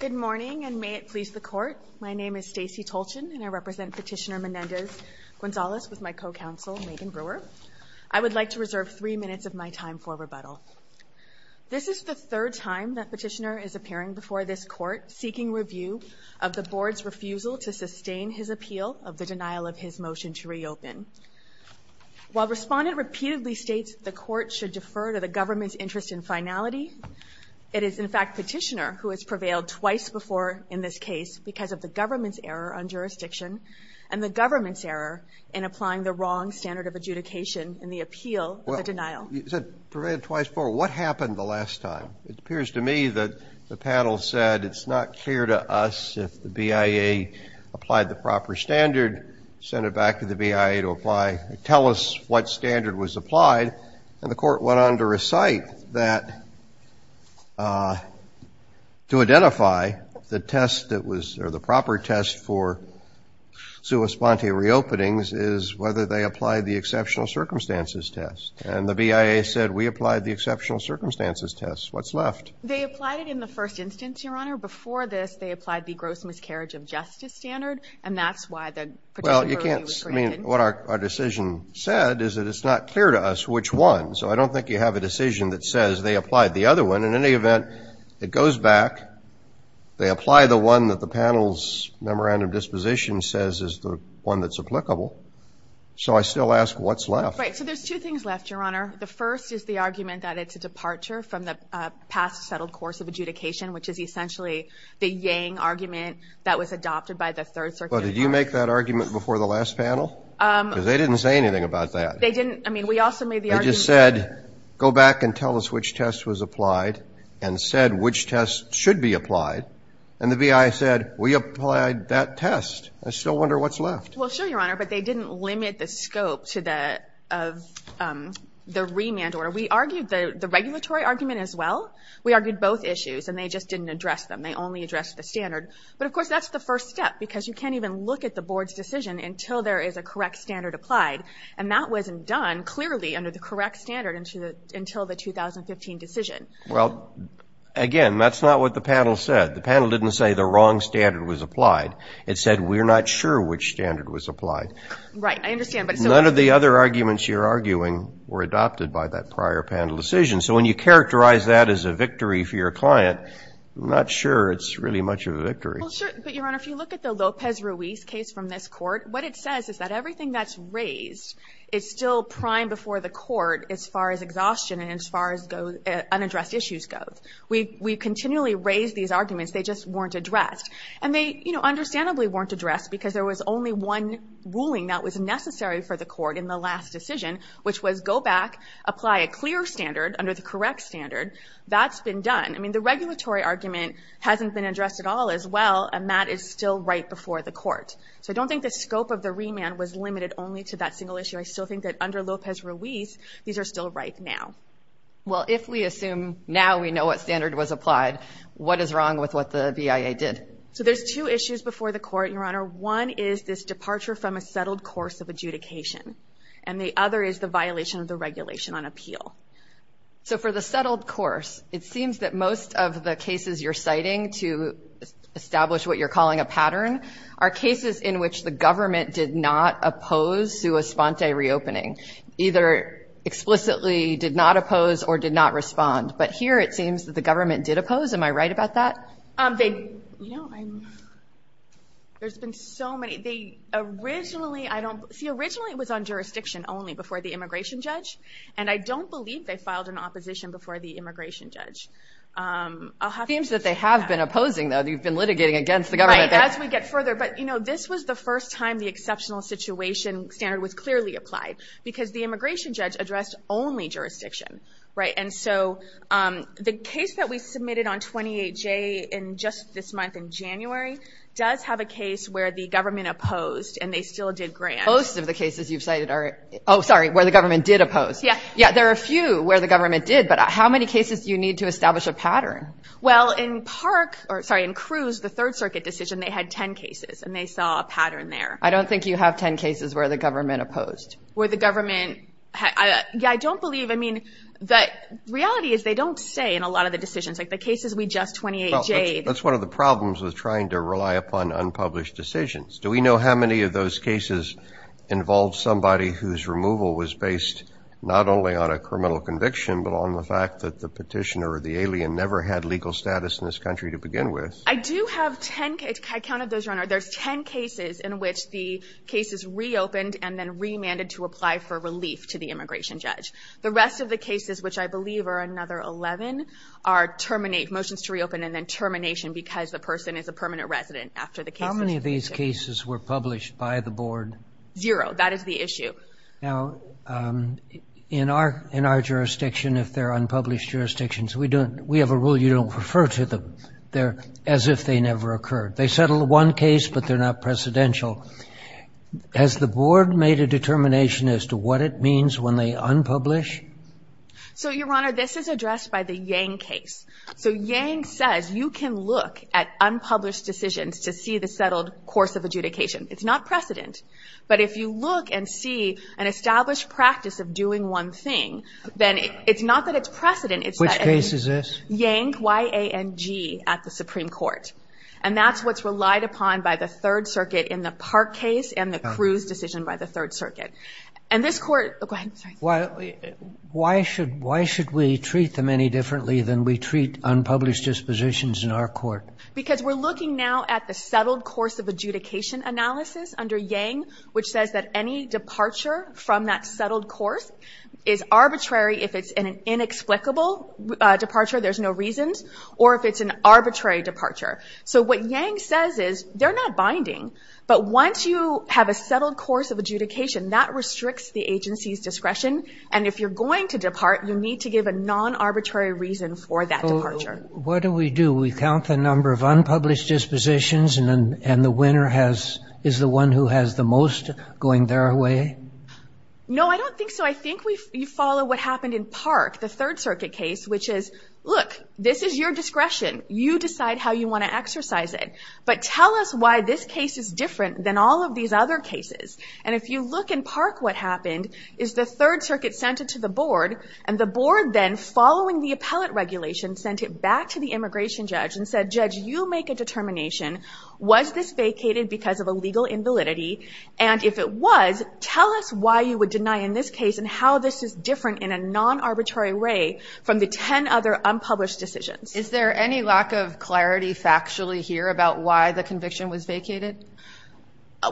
Good morning, and may it please the Court. My name is Stacey Tolchin, and I represent Petitioner Menendez-Gonzalez with my co-counsel Megan Brewer. I would like to reserve three minutes of my time for rebuttal. This is the third time that Petitioner is appearing before this Court seeking review of the Board's refusal to sustain his appeal of the denial of his motion to reopen. While Respondent repeatedly states the Court should defer to the government's interest in finality, it is in fact Petitioner who has prevailed twice before in this case because of the government's error on jurisdiction and the government's error in applying the wrong standard of adjudication in the appeal of the denial. You said prevailed twice before. What happened the last time? It appears to me that the panel said it's not clear to us if the BIA applied the proper standard, sent it back to the BIA to apply, tell us what standard was applied. And the Court went on to recite that to identify the test that was, or the proper test for sua sponte reopenings is whether they applied the exceptional circumstances test. And the BIA said we applied the exceptional circumstances test. What's left? They applied it in the first instance, Your Honor. Before this, they applied the gross miscarriage of justice standard, and that's why the particular review was granted. I mean, what our decision said is that it's not clear to us which one, so I don't think you have a decision that says they applied the other one. In any event, it goes back. They apply the one that the panel's memorandum of disposition says is the one that's applicable. So I still ask, what's left? Right, so there's two things left, Your Honor. The first is the argument that it's a departure from the past settled course of adjudication, which is essentially the Yang argument that was adopted by the Third Circuit. Well, did you make that argument before the last panel? Because they didn't say anything about that. They didn't. I mean, we also made the argument. They just said, go back and tell us which test was applied, and said which test should be applied. And the BIA said, we applied that test. I still wonder what's left. Well, sure, Your Honor, but they didn't limit the scope to the remand order. We argued the regulatory argument as well. We argued both issues, and they just didn't address them. They only addressed the standard. But, of course, that's the first step, because you can't even look at the board's decision until there is a correct standard applied. And that wasn't done, clearly, under the correct standard until the 2015 decision. Well, again, that's not what the panel said. The panel didn't say the wrong standard was applied. It said, we're not sure which standard was applied. Right, I understand. None of the other arguments you're arguing were adopted by that prior panel decision. So when you characterize that as a victory for your client, I'm not sure it's really much of a victory. Well, sure. But, Your Honor, if you look at the Lopez-Ruiz case from this Court, what it says is that everything that's raised is still prime before the Court as far as exhaustion and as far as unaddressed issues go. We continually raise these arguments. They just weren't addressed. And they, you know, understandably weren't addressed, because there was only one ruling that was necessary for the Court in the last decision, which was go back, apply a clear standard under the correct standard. That's been done. I mean, the regulatory argument hasn't been addressed at all as well. And that is still right before the Court. So I don't think the scope of the remand was limited only to that single issue. I still think that under Lopez-Ruiz, these are still right now. Well, if we assume now we know what standard was applied, what is wrong with what the BIA did? So there's two issues before the Court, Your Honor. One is this departure from a settled course of adjudication. And the other is the violation of the regulation on appeal. So for the settled course, it seems that most of the cases you're citing to establish what you're calling a pattern are cases in which the government did not oppose sua sponte reopening, either explicitly did not oppose or did not respond. But here it seems that the government did oppose. Am I right about that? There's been so many. See, originally it was on jurisdiction only before the immigration judge, and I don't believe they filed an opposition before the immigration judge. It seems that they have been opposing, though. They've been litigating against the government. Right, as we get further. But, you know, this was the first time the exceptional situation standard was clearly applied because the immigration judge addressed only jurisdiction. And so the case that we submitted on 28J just this month in January does have a case where the government opposed and they still did grant. Most of the cases you've cited are, oh, sorry, where the government did oppose. Yeah. Yeah, there are a few where the government did, but how many cases do you need to establish a pattern? Well, in Park, or sorry, in Cruz, the Third Circuit decision, they had 10 cases, and they saw a pattern there. I don't think you have 10 cases where the government opposed. Where the government, yeah, I don't believe, I mean, the reality is they don't say in a lot of the decisions, like the cases we just 28J'd. That's one of the problems with trying to rely upon unpublished decisions. Do we know how many of those cases involved somebody whose removal was based not only on a criminal conviction, but on the fact that the petitioner or the alien never had legal status in this country to begin with? I do have 10 cases. I counted those, Your Honor. There's 10 cases in which the case is reopened and then remanded to apply for relief to the immigration judge. The rest of the cases, which I believe are another 11, are motions to reopen and then termination because the person is a permanent resident after the case is reopened. How many of these cases were published by the board? Zero. That is the issue. Now, in our jurisdiction, if they're unpublished jurisdictions, we have a rule you don't refer to them. They're as if they never occurred. They settled one case, but they're not precedential. Has the board made a determination as to what it means when they unpublish? So, Your Honor, this is addressed by the Yang case. So Yang says you can look at unpublished decisions to see the settled course of adjudication. It's not precedent. But if you look and see an established practice of doing one thing, then it's not that it's precedent. Which case is this? Yang, Y-A-N-G, at the Supreme Court. And that's what's relied upon by the Third Circuit in the Park case and the Cruz decision by the Third Circuit. And this court, go ahead. Why should we treat them any differently than we treat unpublished dispositions in our court? Because we're looking now at the settled course of adjudication analysis under Yang, which says that any departure from that settled course is arbitrary. If it's an inexplicable departure, there's no reasons. Or if it's an arbitrary departure. So what Yang says is they're not binding. But once you have a settled course of adjudication, that restricts the agency's discretion. And if you're going to depart, you need to give a non-arbitrary reason for that departure. What do we do? We count the number of unpublished dispositions and the winner is the one who has the most going their way? No, I don't think so. I think we follow what happened in Park, the Third Circuit case, which is, look, this is your discretion. You decide how you want to exercise it. But tell us why this case is different than all of these other cases. And if you look in Park, what happened is the Third Circuit sent it to the board, and the board then, following the appellate regulation, sent it back to the immigration judge and said, Judge, you make a determination. Was this vacated because of a legal invalidity? And if it was, tell us why you would deny in this case and how this is different in a non-arbitrary way from the ten other unpublished decisions. Is there any lack of clarity factually here about why the conviction was vacated?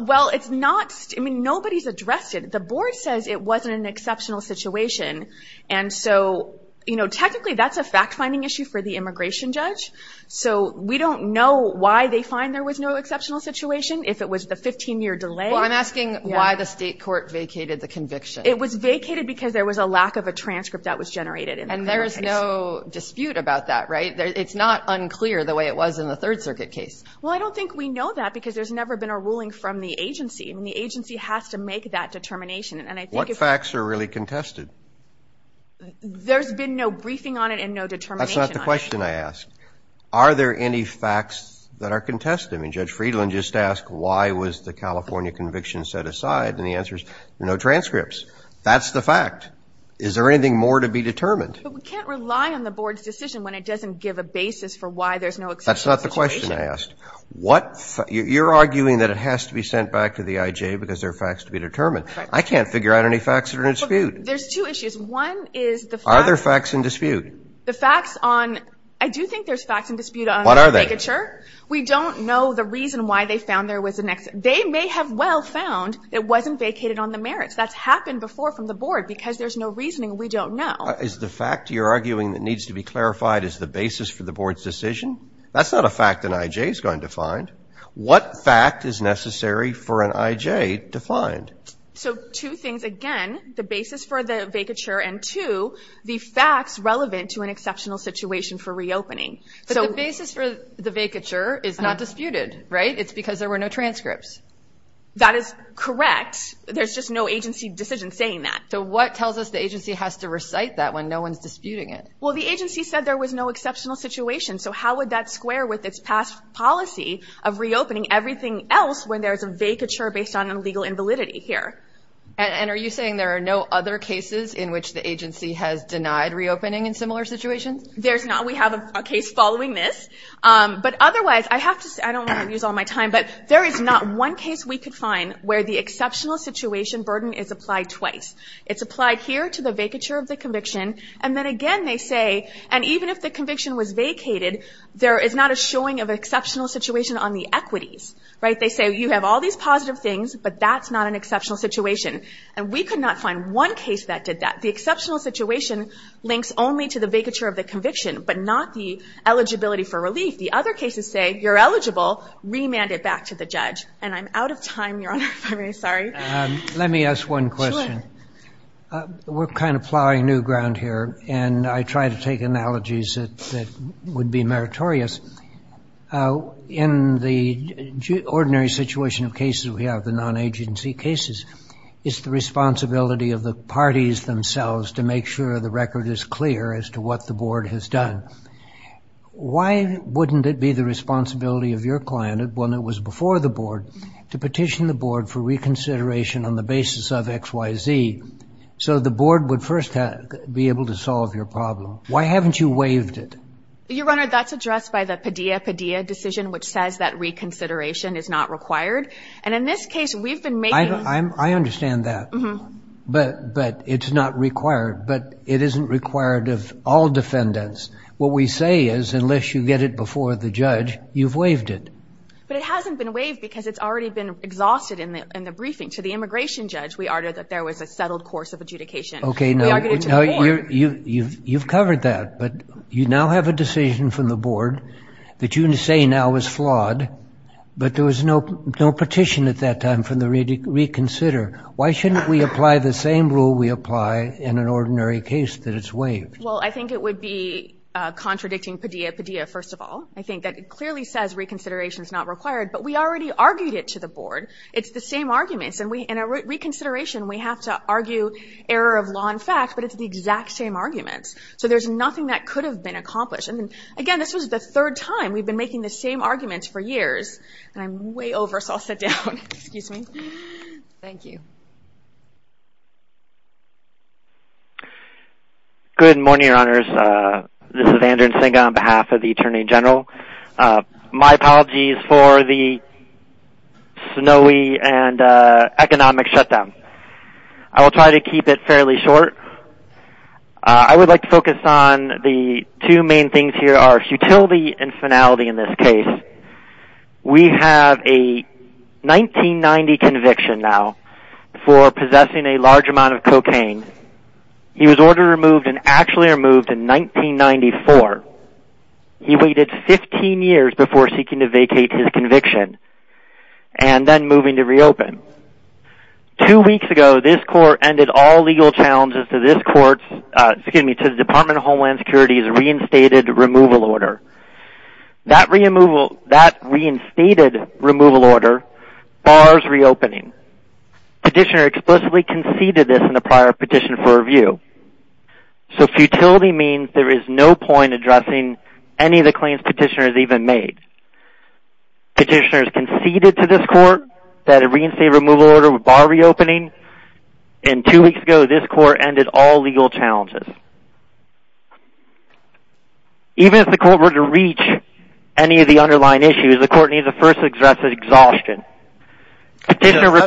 Well, it's not. I mean, nobody's addressed it. The board says it wasn't an exceptional situation. And so, you know, technically that's a fact-finding issue for the immigration judge. So we don't know why they find there was no exceptional situation if it was the 15-year delay. Well, I'm asking why the state court vacated the conviction. It was vacated because there was a lack of a transcript that was generated in the criminal case. There's no dispute about that, right? It's not unclear the way it was in the Third Circuit case. Well, I don't think we know that because there's never been a ruling from the agency. I mean, the agency has to make that determination. What facts are really contested? There's been no briefing on it and no determination on it. That's not the question I asked. Are there any facts that are contested? I mean, Judge Friedland just asked why was the California conviction set aside, and the answer is no transcripts. That's the fact. Is there anything more to be determined? But we can't rely on the board's decision when it doesn't give a basis for why there's no exceptional situation. That's not the question I asked. You're arguing that it has to be sent back to the IJ because there are facts to be determined. Right. I can't figure out any facts that are in dispute. There's two issues. One is the facts. Are there facts in dispute? The facts on – I do think there's facts in dispute on the vacature. What are they? We don't know the reason why they found there was an – they may have well found it wasn't vacated on the merits. That's happened before from the board because there's no reasoning. We don't know. Is the fact you're arguing that needs to be clarified as the basis for the board's decision? That's not a fact an IJ is going to find. What fact is necessary for an IJ to find? So two things. Again, the basis for the vacature, and two, the facts relevant to an exceptional situation for reopening. But the basis for the vacature is not disputed, right? It's because there were no transcripts. That is correct. There's just no agency decision saying that. So what tells us the agency has to recite that when no one's disputing it? Well, the agency said there was no exceptional situation, so how would that square with its past policy of reopening everything else when there's a vacature based on an illegal invalidity here? And are you saying there are no other cases in which the agency has denied reopening in similar situations? There's not. We have a case following this. But otherwise, I have to – I don't want to use all my time, but there is not one case we could find where the exceptional situation burden is applied twice. It's applied here to the vacature of the conviction, and then again they say, and even if the conviction was vacated, there is not a showing of exceptional situation on the equities, right? They say you have all these positive things, but that's not an exceptional situation. And we could not find one case that did that. The exceptional situation links only to the vacature of the conviction, but not the eligibility for relief. The other cases say you're eligible, remand it back to the judge. And I'm out of time, Your Honor, if I may. Sorry. Let me ask one question. Sure. We're kind of plowing new ground here, and I try to take analogies that would be meritorious. In the ordinary situation of cases we have, the non-agency cases, it's the responsibility of the parties themselves to make sure the record is clear as to what the board has done. Why wouldn't it be the responsibility of your client, when it was before the board, to petition the board for reconsideration on the basis of X, Y, Z, so the board would first be able to solve your problem? Why haven't you waived it? Your Honor, that's addressed by the Padilla-Padilla decision, which says that reconsideration is not required. And in this case, we've been making – I understand that, but it's not required. But it isn't required of all defendants. What we say is, unless you get it before the judge, you've waived it. But it hasn't been waived because it's already been exhausted in the briefing. To the immigration judge, we uttered that there was a settled course of adjudication. Okay, now you've covered that. But you now have a decision from the board that you say now is flawed, but there was no petition at that time for the reconsider. Why shouldn't we apply the same rule we apply in an ordinary case that it's waived? Well, I think it would be contradicting Padilla-Padilla, first of all. I think that it clearly says reconsideration is not required. But we already argued it to the board. It's the same arguments. And in a reconsideration, we have to argue error of law in fact, but it's the exact same arguments. So there's nothing that could have been accomplished. And, again, this was the third time. We've been making the same arguments for years. And I'm way over, so I'll sit down. Excuse me. Thank you. Good morning, Your Honors. This is Andrew Nsinga on behalf of the Attorney General. My apologies for the snowy and economic shutdown. I will try to keep it fairly short. I would like to focus on the two main things here are futility and finality in this case. We have a 1990 conviction now for possessing a large amount of cocaine. He was ordered removed and actually removed in 1994. He waited 15 years before seeking to vacate his conviction and then moving to reopen. Two weeks ago, this court ended all legal challenges to this court's, excuse me, to the Department of Homeland Security's reinstated removal order. That reinstated removal order bars reopening. Petitioner explicitly conceded this in a prior petition for review. So futility means there is no point addressing any of the claims petitioner has even made. Petitioner has conceded to this court that a reinstated removal order would bar reopening. And two weeks ago, this court ended all legal challenges. Even if the court were to reach any of the underlying issues, the court needs to first address exhaustion. Petitioner.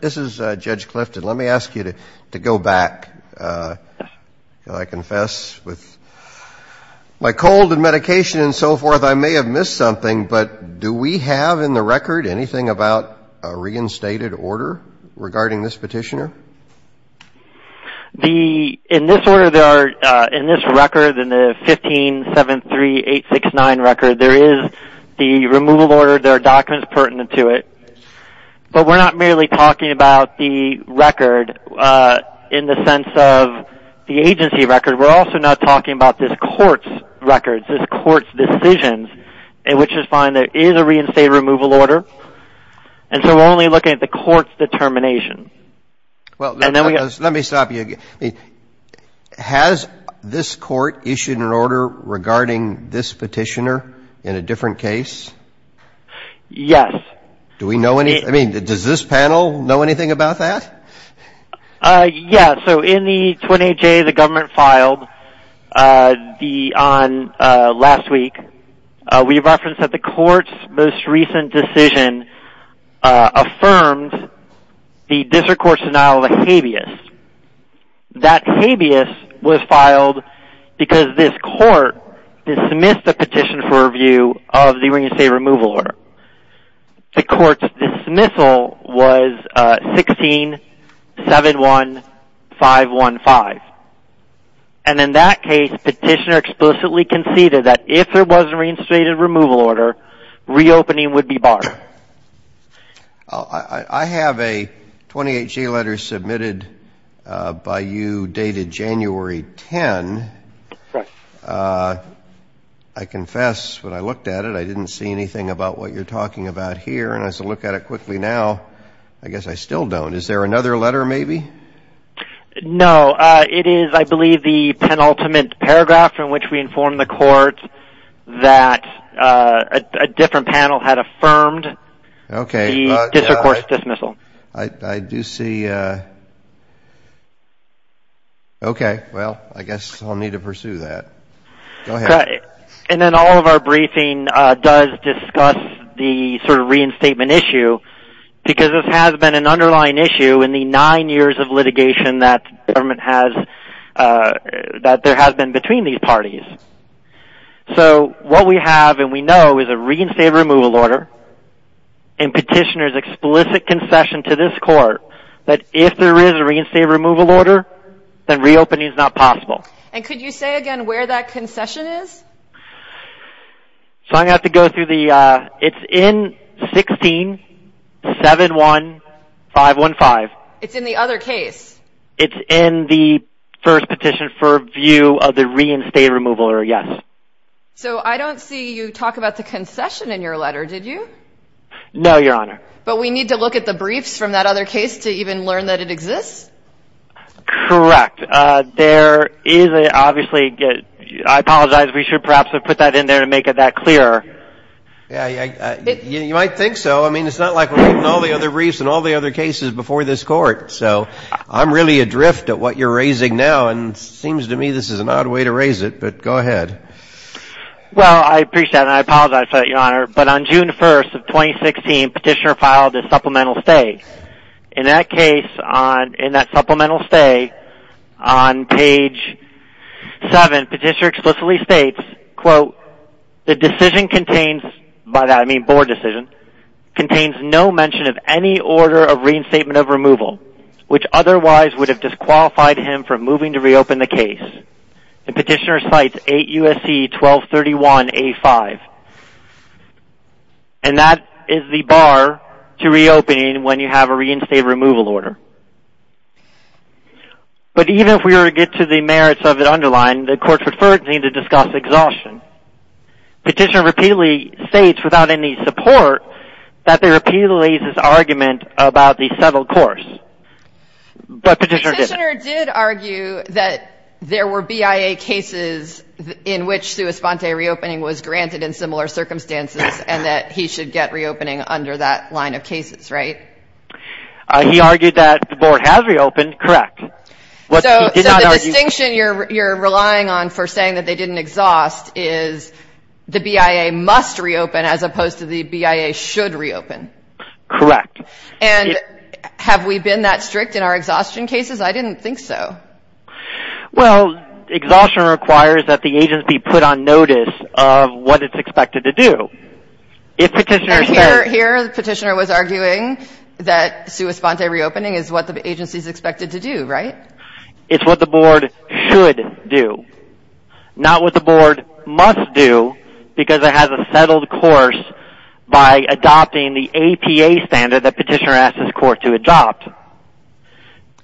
This is Judge Clifton. Let me ask you to go back. I confess with my cold and medication and so forth, I may have missed something. But do we have in the record anything about a reinstated order regarding this petitioner? In this record, in the 15-73869 record, there is the removal order. There are documents pertinent to it. But we're not merely talking about the record in the sense of the agency record. We're also not talking about this court's records, this court's decisions, which is fine. There is a reinstated removal order. And so we're only looking at the court's determination. Well, let me stop you. Has this court issued an order regarding this petitioner in a different case? Yes. Do we know anything? I mean, does this panel know anything about that? Yes. So in the 28-J the government filed on last week, we referenced that the court's most recent decision affirmed the district court's denial of a habeas. That habeas was filed because this court dismissed the petition for review of the reinstated removal order. The court's dismissal was 16-71515. And in that case, petitioner explicitly conceded that if there was a reinstated removal order, reopening would be barred. I have a 28-J letter submitted by you dated January 10. Correct. I confess when I looked at it, I didn't see anything about what you're talking about here. And as I look at it quickly now, I guess I still don't. Is there another letter maybe? No. It is, I believe, the penultimate paragraph in which we inform the court that a different panel had affirmed the district court's dismissal. Okay. I do see. Okay. Well, I guess I'll need to pursue that. Go ahead. And then all of our briefing does discuss the sort of reinstatement issue because this has been an underlying issue in the nine years of litigation that there has been between these parties. So what we have and we know is a reinstated removal order and petitioner's explicit concession to this court that if there is a reinstated removal order, then reopening is not possible. And could you say again where that concession is? So I'm going to have to go through the – it's in 16-71515. It's in the other case. It's in the first petition for view of the reinstated removal order, yes. So I don't see you talk about the concession in your letter, did you? No, Your Honor. But we need to look at the briefs from that other case to even learn that it exists? Correct. There is obviously – I apologize. We should perhaps have put that in there to make it that clear. Yeah, you might think so. I mean, it's not like we're reading all the other briefs and all the other cases before this court. So I'm really adrift at what you're raising now, and it seems to me this is an odd way to raise it. But go ahead. Well, I appreciate that, and I apologize for that, Your Honor. But on June 1st of 2016, petitioner filed a supplemental stay. In that case, in that supplemental stay, on page 7, petitioner explicitly states, quote, the decision contains – by that, I mean board decision – contains no mention of any order of reinstatement of removal, which otherwise would have disqualified him from moving to reopen the case. And petitioner cites 8 U.S.C. 1231A5. And that is the bar to reopening when you have a reinstated removal order. But even if we were to get to the merits of it underlined, the court preferred me to discuss exhaustion. Petitioner repeatedly states, without any support, that there repeatedly is this argument about the settled course. But petitioner didn't. Petitioner did argue that there were BIA cases in which sua sponte reopening was granted in similar circumstances and that he should get reopening under that line of cases, right? He argued that the board has reopened, correct. So the distinction you're relying on for saying that they didn't exhaust is the BIA must reopen as opposed to the BIA should reopen. Correct. And have we been that strict in our exhaustion cases? I didn't think so. Well, exhaustion requires that the agency put on notice of what it's expected to do. And here the petitioner was arguing that sua sponte reopening is what the agency is expected to do, right? It's what the board should do. Not what the board must do because it has a settled course by adopting the APA standard that petitioner asked his court to adopt.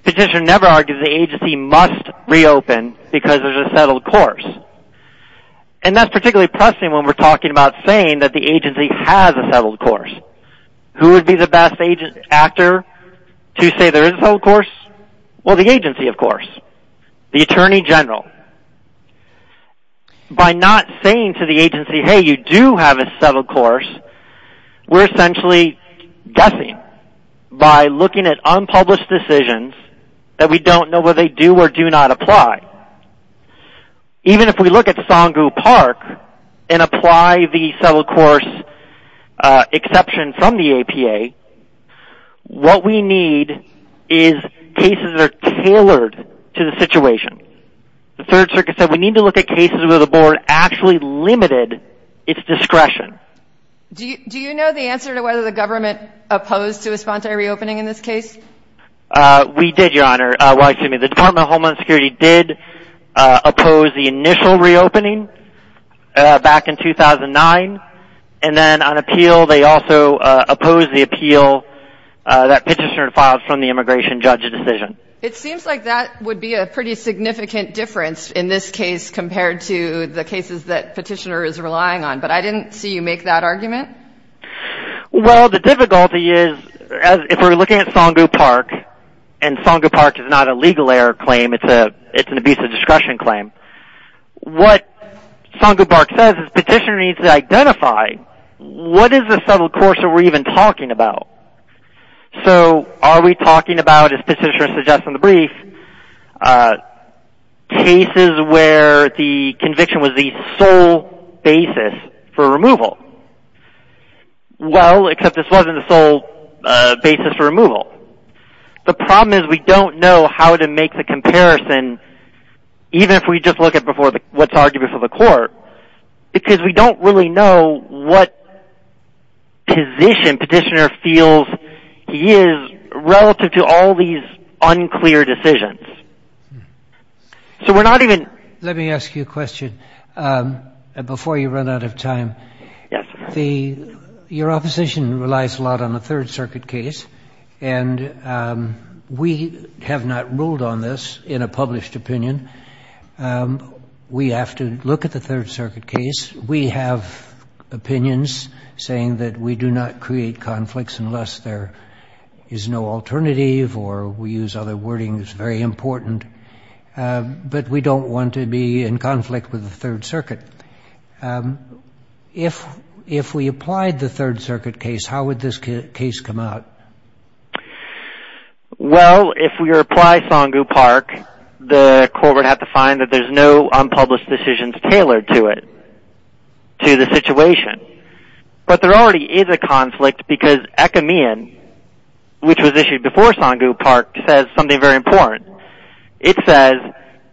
Petitioner never argued the agency must reopen because there's a settled course. And that's particularly pressing when we're talking about saying that the agency has a settled course. Who would be the best actor to say there is a settled course? Well, the agency, of course. The attorney general. By not saying to the agency, hey, you do have a settled course, we're essentially guessing by looking at unpublished decisions that we don't know whether they do or do not apply. Even if we look at Songu Park and apply the settled course exception from the APA, what we need is cases that are tailored to the situation. The Third Circuit said we need to look at cases where the board actually limited its discretion. Do you know the answer to whether the government opposed sua sponte reopening in this case? We did, Your Honor. Well, excuse me, the Department of Homeland Security did oppose the initial reopening back in 2009. And then on appeal, they also opposed the appeal that petitioner filed from the immigration judge's decision. It seems like that would be a pretty significant difference in this case compared to the cases that petitioner is relying on. But I didn't see you make that argument. Well, the difficulty is if we're looking at Songu Park, and Songu Park is not a legal error claim, it's an abuse of discretion claim, what Songu Park says is petitioner needs to identify what is the settled course that we're even talking about. So are we talking about, as petitioner suggests in the brief, cases where the conviction was the sole basis for removal? Well, except this wasn't the sole basis for removal. The problem is we don't know how to make the comparison, even if we just look at what's argued before the court, because we don't really know what position petitioner feels he is relative to all these unclear decisions. So we're not even... Let me ask you a question before you run out of time. Yes. Your opposition relies a lot on the Third Circuit case, and we have not ruled on this in a published opinion. We have to look at the Third Circuit case. We have opinions saying that we do not create conflicts unless there is no alternative, or we use other wording that's very important. But we don't want to be in conflict with the Third Circuit. If we applied the Third Circuit case, how would this case come out? Well, if we apply Songu Park, the court would have to find that there's no unpublished decisions tailored to it, to the situation. But there already is a conflict, because Ekameyan, which was issued before Songu Park, says something very important. It says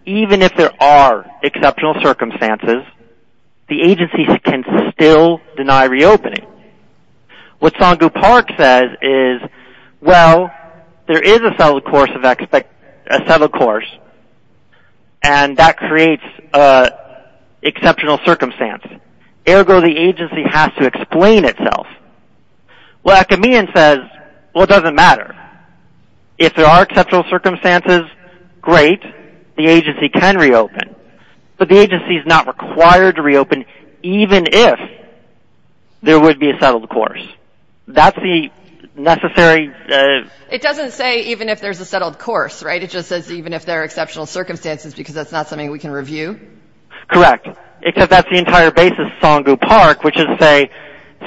even if there are exceptional circumstances, the agencies can still deny reopening. What Songu Park says is, well, there is a settled course, and that creates an exceptional circumstance. Ergo, the agency has to explain itself. What Ekameyan says, well, it doesn't matter. If there are exceptional circumstances, great. The agency can reopen. But the agency is not required to reopen even if there would be a settled course. That's the necessary ---- It doesn't say even if there's a settled course, right? It just says even if there are exceptional circumstances, because that's not something we can review? Correct. Except that's the entire basis of Songu Park, which is to say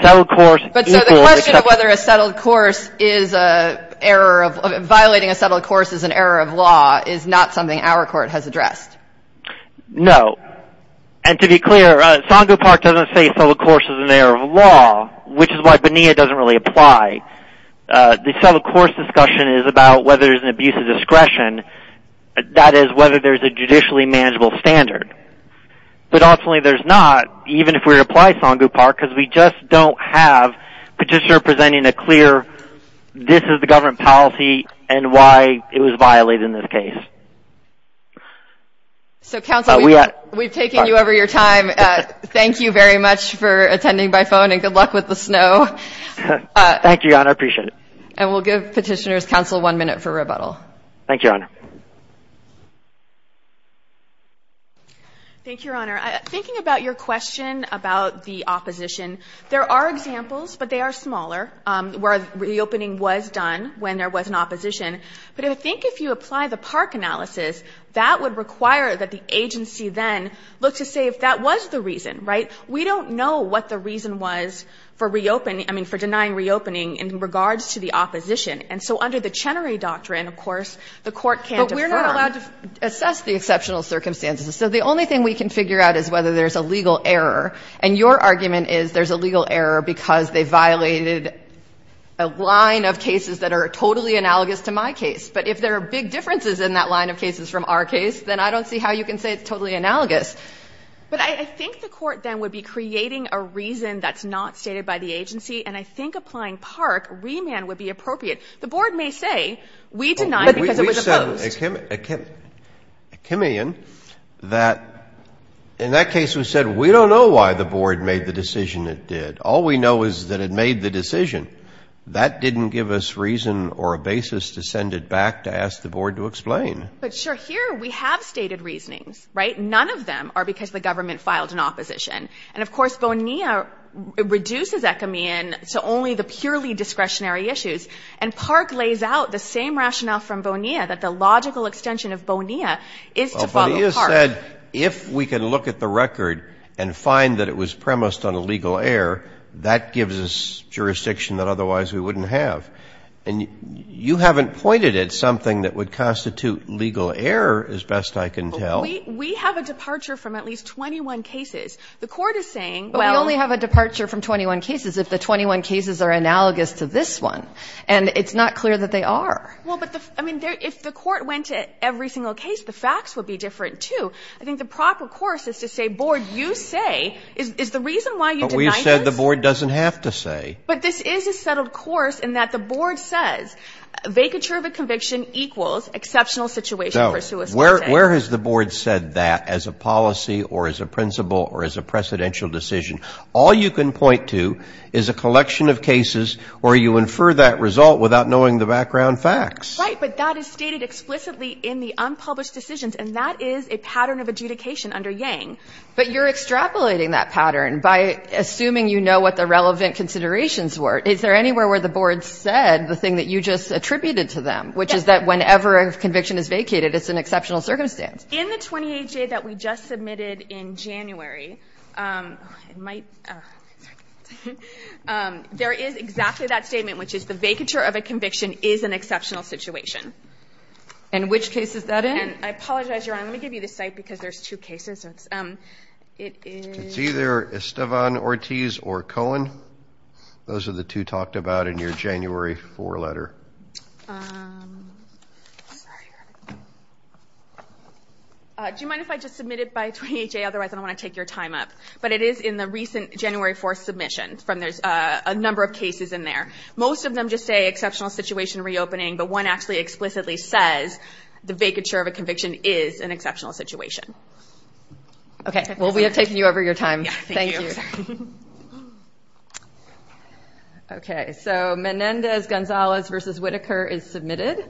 settled course equals ---- But so the question of whether a settled course is an error of ---- No. And to be clear, Songu Park doesn't say settled course is an error of law, which is why BNEA doesn't really apply. The settled course discussion is about whether there's an abuse of discretion. That is whether there's a judicially manageable standard. But ultimately there's not, even if we apply Songu Park, because we just don't have a petitioner presenting a clear this is the government policy and why it was violated in this case. So, Counsel, we've taken you over your time. Thank you very much for attending by phone, and good luck with the snow. Thank you, Your Honor. I appreciate it. And we'll give Petitioner's Counsel one minute for rebuttal. Thank you, Your Honor. Thank you, Your Honor. Thinking about your question about the opposition, there are examples, but they are smaller, where reopening was done when there was an opposition. But I think if you apply the Park analysis, that would require that the agency then look to say if that was the reason, right? We don't know what the reason was for denying reopening in regards to the opposition. And so under the Chenery Doctrine, of course, the court can't defer. But we're not allowed to assess the exceptional circumstances. So the only thing we can figure out is whether there's a legal error. And your argument is there's a legal error because they violated a line of cases that are totally analogous to my case. But if there are big differences in that line of cases from our case, then I don't see how you can say it's totally analogous. But I think the court then would be creating a reason that's not stated by the agency. And I think applying Park, remand, would be appropriate. The Board may say we denied because it was opposed. But we've said a chameleon that in that case we said we don't know why the Board made the decision it did. All we know is that it made the decision. That didn't give us reason or a basis to send it back to ask the Board to explain. But, sure, here we have stated reasonings, right? None of them are because the government filed an opposition. And, of course, Bonilla reduces that chameleon to only the purely discretionary issues. And Park lays out the same rationale from Bonilla, that the logical extension of Bonilla is to follow Park. Well, Bonilla said if we can look at the record and find that it was premised on a legal error, that gives us jurisdiction that otherwise we wouldn't have. And you haven't pointed at something that would constitute legal error, as best I can tell. We have a departure from at least 21 cases. The Court is saying, well we only have a departure from 21 cases if the 21 cases are analogous to this one. And it's not clear that they are. Well, but, I mean, if the Court went to every single case, the facts would be different, too. I think the proper course is to say, Board, you say, is the reason why you denied this? But you said the Board doesn't have to say. But this is a settled course in that the Board says vacature of a conviction equals exceptional situation for suicide. No. Where has the Board said that as a policy or as a principle or as a precedential decision? All you can point to is a collection of cases where you infer that result without knowing the background facts. Right, but that is stated explicitly in the unpublished decisions, and that is a pattern of adjudication under Yang. But you're extrapolating that pattern by assuming you know what the relevant considerations were. Is there anywhere where the Board said the thing that you just attributed to them, which is that whenever a conviction is vacated, it's an exceptional circumstance? In the 28J that we just submitted in January, there is exactly that statement, which is the vacature of a conviction is an exceptional situation. And which case is that in? I apologize, Your Honor. Let me give you the site because there's two cases. It's either Estevan Ortiz or Cohen. Those are the two talked about in your January 4 letter. Do you mind if I just submit it by 28J? Otherwise, I don't want to take your time up. But it is in the recent January 4 submission. There's a number of cases in there. Most of them just say exceptional situation reopening, but one actually explicitly says the vacature of a conviction is an exceptional situation. Okay, well, we have taken you over your time. Thank you. Okay, so Menendez-Gonzalez v. Whitaker is submitted.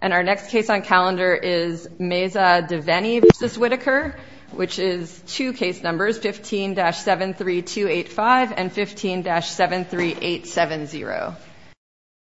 And our next case on calendar is Meza-Deveni v. Whitaker, which is two case numbers, 15-73285 and 15-73870.